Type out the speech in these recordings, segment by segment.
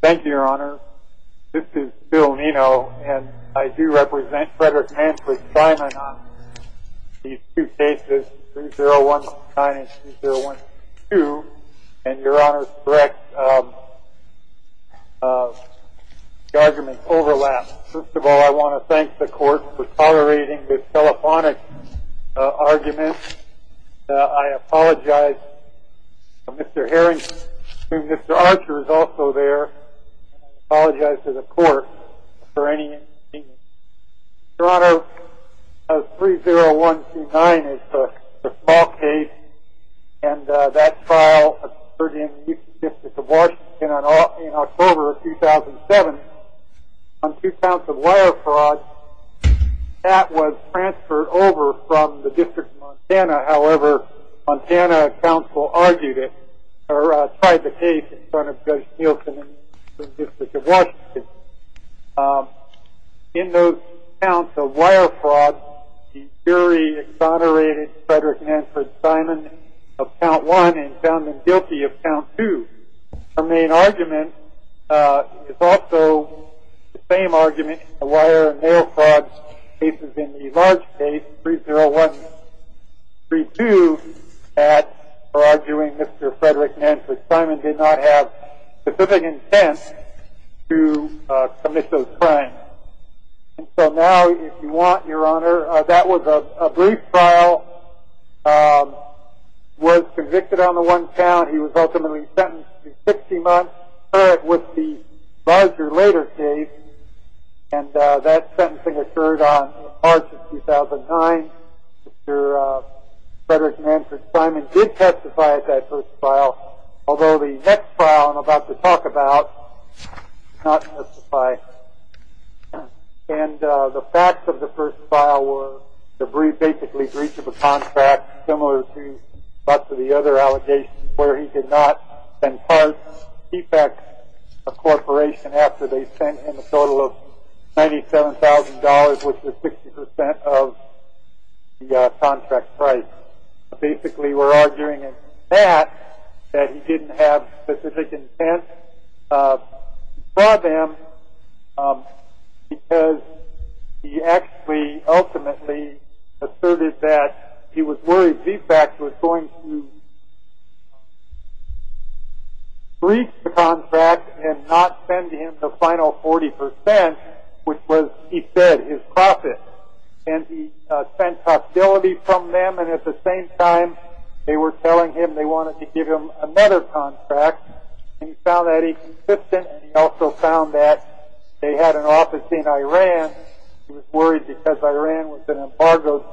Thank you, Your Honor. This is Bill Nino, and I do represent Frederick Manfred Simon on these two cases, 3019 and 3022, and Your Honor's correct, the arguments overlap. First of all, I want to thank the court for tolerating this telephonic argument. I apologize to Mr. Harrington, whom Mr. Archer is also there, and I apologize to the court for any inconvenience. Your Honor, 30129 is the small case, and that trial occurred in the Eastern District of Washington in October of 2007 on two counts of wire fraud. That was transferred over from the District of Montana. However, Montana counsel argued it or tried the case in front of Judge Nielsen in the Eastern District of Washington. In those counts of wire fraud, the jury exonerated Frederick Manfred Simon of count one and found him guilty of count two. Our main argument is also the same argument in the wire and nail fraud cases in the large case, 30132, for arguing Mr. Frederick Manfred Simon did not have specific intent to commit those crimes. So now, if you want, Your Honor, that was a brief trial. He was convicted on the one count. He was ultimately sentenced to 60 months, with the larger later case, and that sentencing occurred on March of 2009. Mr. Frederick Manfred Simon did testify at that first trial, although the next trial I'm about to talk about did not testify. And the facts of the first trial were basically breach of a contract, similar to lots of the other allegations, where he did not impart defects to a corporation after they sent him a total of $97,000, which was 60% of the contract price. Basically, we're arguing in that that he didn't have specific intent. We brought him because he actually ultimately asserted that he was worried VFAC was going to breach the contract and not send him the final 40%, which was, he said, his profit. And he sent possibility from them, and at the same time, they were telling him they wanted to give him another contract. And he found that inconsistent, and he also found that they had an office in Iran. He was worried because Iran was an embargoed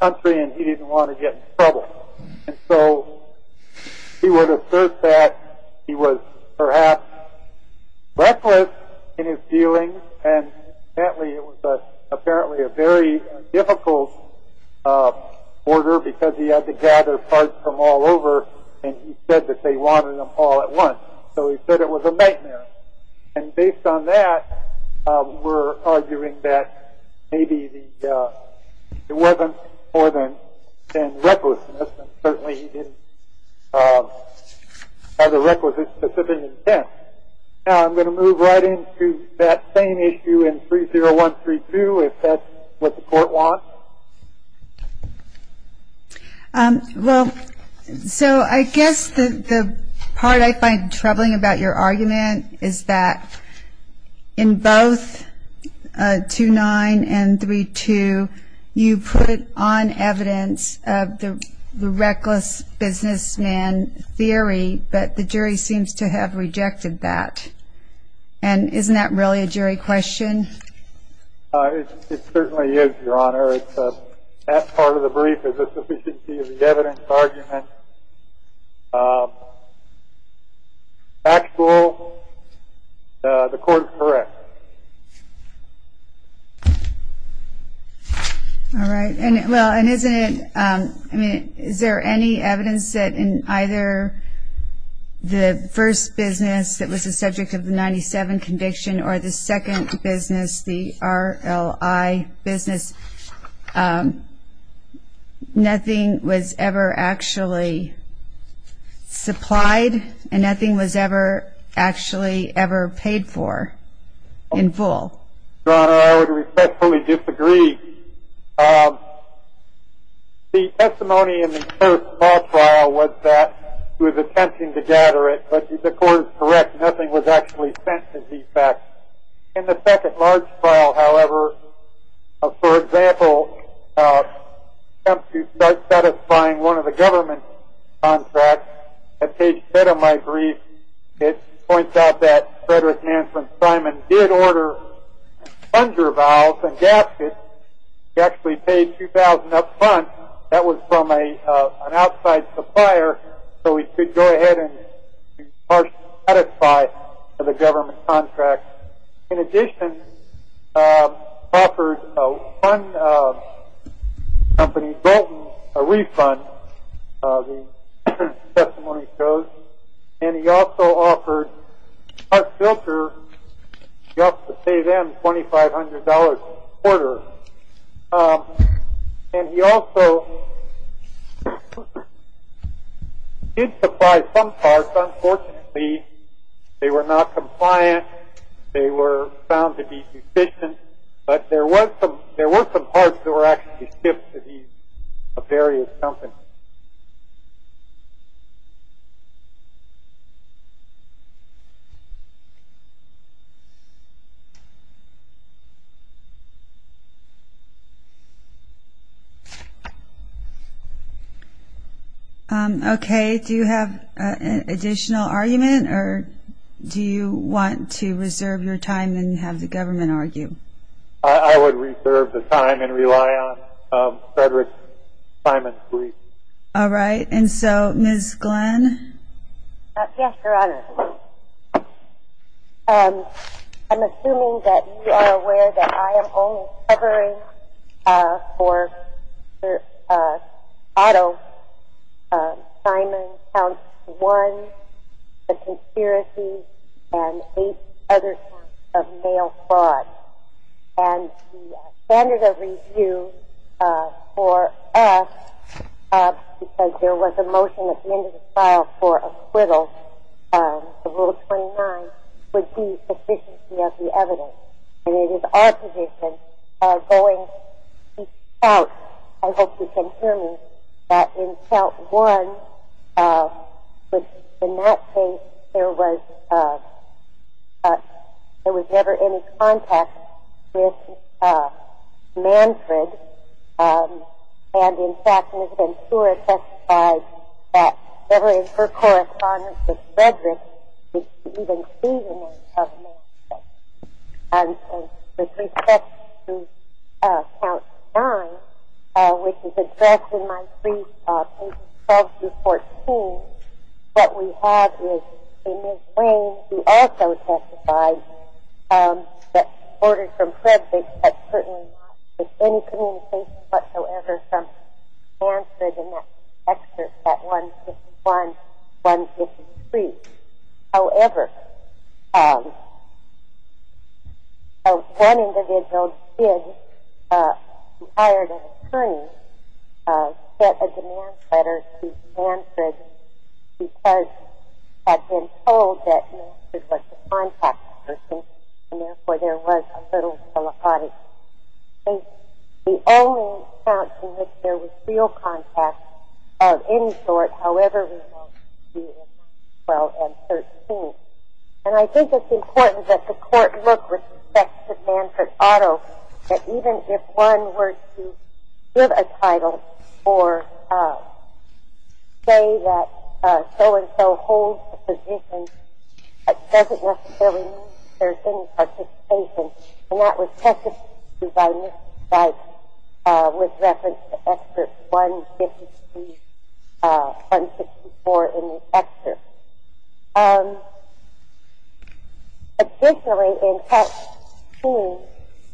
country, and he didn't want to get in trouble. And so he would assert that he was perhaps reckless in his dealings, and apparently it was apparently a very difficult order because he had to gather cards from all over, and he said that they wanted them all at once. So he said it was a nightmare. And based on that, we're arguing that maybe it wasn't more than recklessness, and certainly he didn't have the requisite specific intent. Now I'm going to move right into that same issue in 30132, if that's what the Court wants. Well, so I guess the part I find troubling about your argument is that in both 29 and 32, you put on evidence the reckless businessman theory, but the jury seems to have rejected that. And isn't that really a jury question? It certainly is, Your Honor. That part of the brief is a sufficiency of the evidence argument. Actual, the Court is correct. All right. Well, and isn't it, I mean, is there any evidence that in either the first business that was the subject of the 97 conviction or the second business, the RLI business, nothing was ever actually supplied and nothing was ever actually ever paid for in full? Your Honor, I would respectfully disagree. The testimony in the first trial was that he was attempting to gather it, but the Court is correct. Nothing was actually sent to the effect. In the second large trial, however, for example, he attempts to start satisfying one of the government contracts that page 10 of my brief. It points out that Frederick Manson Simon did order thunder valves and gaskets. That was from an outside supplier, so he could go ahead and start to satisfy the government contract. In addition, he offered one company, Bolton, a refund. The testimony shows. And he also offered Park Filter, he offered to pay them $2,500 a quarter. And he also did supply some parts. Unfortunately, they were not compliant. They were found to be deficient. Okay. Do you have an additional argument, or do you want to reserve your time and have the government argue? I would reserve the time and rely on Frederick Simon's brief. All right. And so, Ms. Glenn? Yes, Your Honor. I'm assuming that you are aware that I am only covering for Otto Simon, count one, the conspiracy, and eight other counts of mail fraud. And the standard of review for us, because there was a motion at the end of the file for acquittal, the Rule 29, would be sufficiency of the evidence. And it is our position going out, I hope you can hear me, that in count one, in that case, there was never any contact with Manfred. And, in fact, Ms. Ventura testified that never in her correspondence with Frederick did she even see the name of Manfred. With respect to count nine, which is addressed in my brief, pages 12 through 14, what we have is a Ms. Wayne who also testified that, ordered from Frederick, that certainly not with any communication whatsoever from Manfred in that excerpt at 151, 153. However, one individual did, who hired an attorney, get a demand letter to Manfred because had been told that Manfred was the contact person, and therefore there was a little telephonic case. The only account in which there was real contact of any sort, however remote, would be in 12 and 13. And I think it's important that the court look with respect to Manfred Otto, that even if one were to give a title or say that so-and-so holds the position, that doesn't necessarily mean that there's any participation. And that was testified to by Ms. Weitz with reference to excerpt 153, 154 in the excerpt. Additionally, in part two,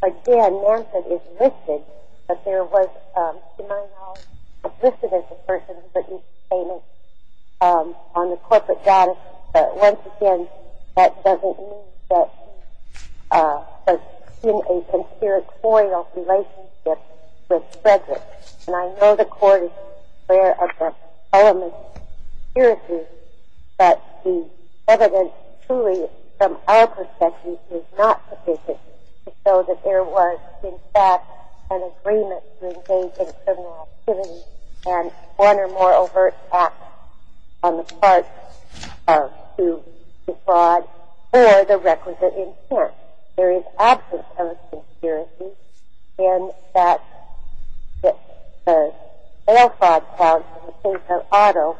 again, Manfred is listed, but there was, in my knowledge, not listed as the person who put these statements on the corporate data. But once again, that doesn't mean that he was in a conspiratorial relationship with Frederick. And I know the court is aware of the elements of conspiracy, but the evidence truly, from our perspective, is not sufficient to show that there was, in fact, an agreement to engage in criminal activity and one or more overt acts on the part of who defrauded for the requisite insurance. There is absence of a conspiracy in that the sale fraud counts in the case of Otto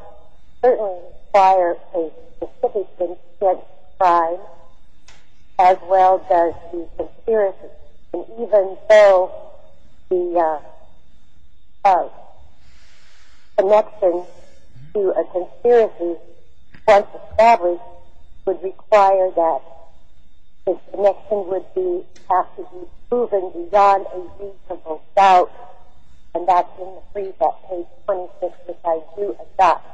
certainly require a specific instance of crime, as well does the conspiracy. And even so, the connection to a conspiracy, once established, would require that this connection would have to be proven beyond a reasonable doubt, and that's in the brief at page 26, which I do adopt.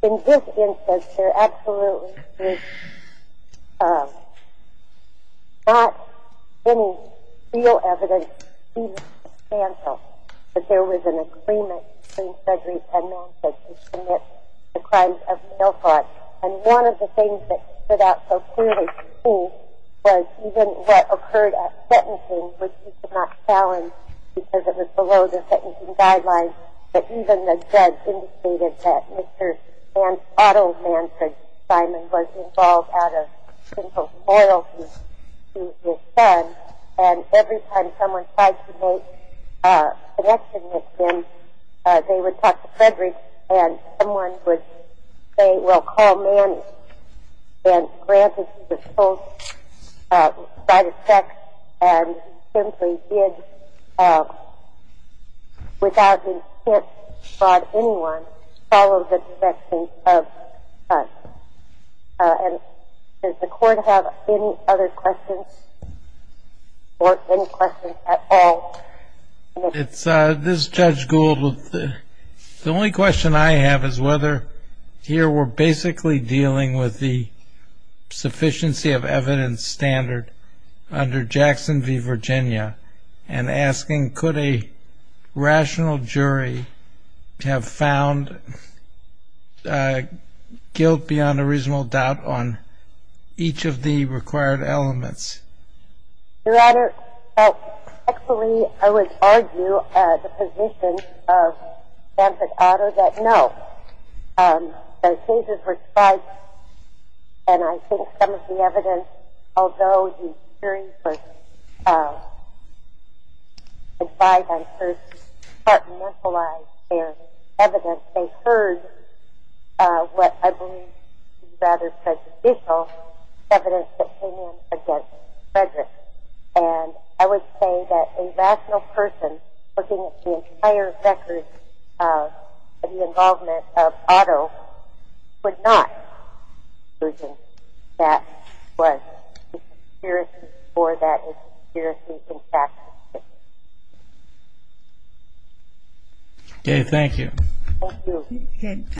In this instance, there absolutely was not any real evidence substantial that there was an agreement between Frederick and Manfred to commit the crimes of sale fraud. And one of the things that stood out so clearly to me was even what occurred at sentencing, which we could not challenge because it was below the sentencing guidelines, but even the judge indicated that Mr. Otto Manfred Simon was involved out of sinful loyalty to his son. And every time someone tried to make a connection with him, they would talk to Frederick, and someone would say, well, call Manny. And granted that both tried to check and simply did without being hit by anyone, followed the direction of us. And does the Court have any other questions or any questions at all? This is Judge Gould. The only question I have is whether here we're basically dealing with the sufficiency of evidence standard under Jackson v. Virginia and asking could a rational jury have found guilt beyond a reasonable doubt on each of the required elements? Your Honor, actually, I would argue the position of Manfred Otto that no. The cases were tried, and I think some of the evidence, although the jury was tried on first to start to neutralize their evidence, they heard what I believe is rather prejudicial evidence that came in against Frederick. And I would say that a rational person, looking at the entire record of the involvement of Otto, would not conclude that that was a conspiracy or that a conspiracy in fact existed. Okay, thank you.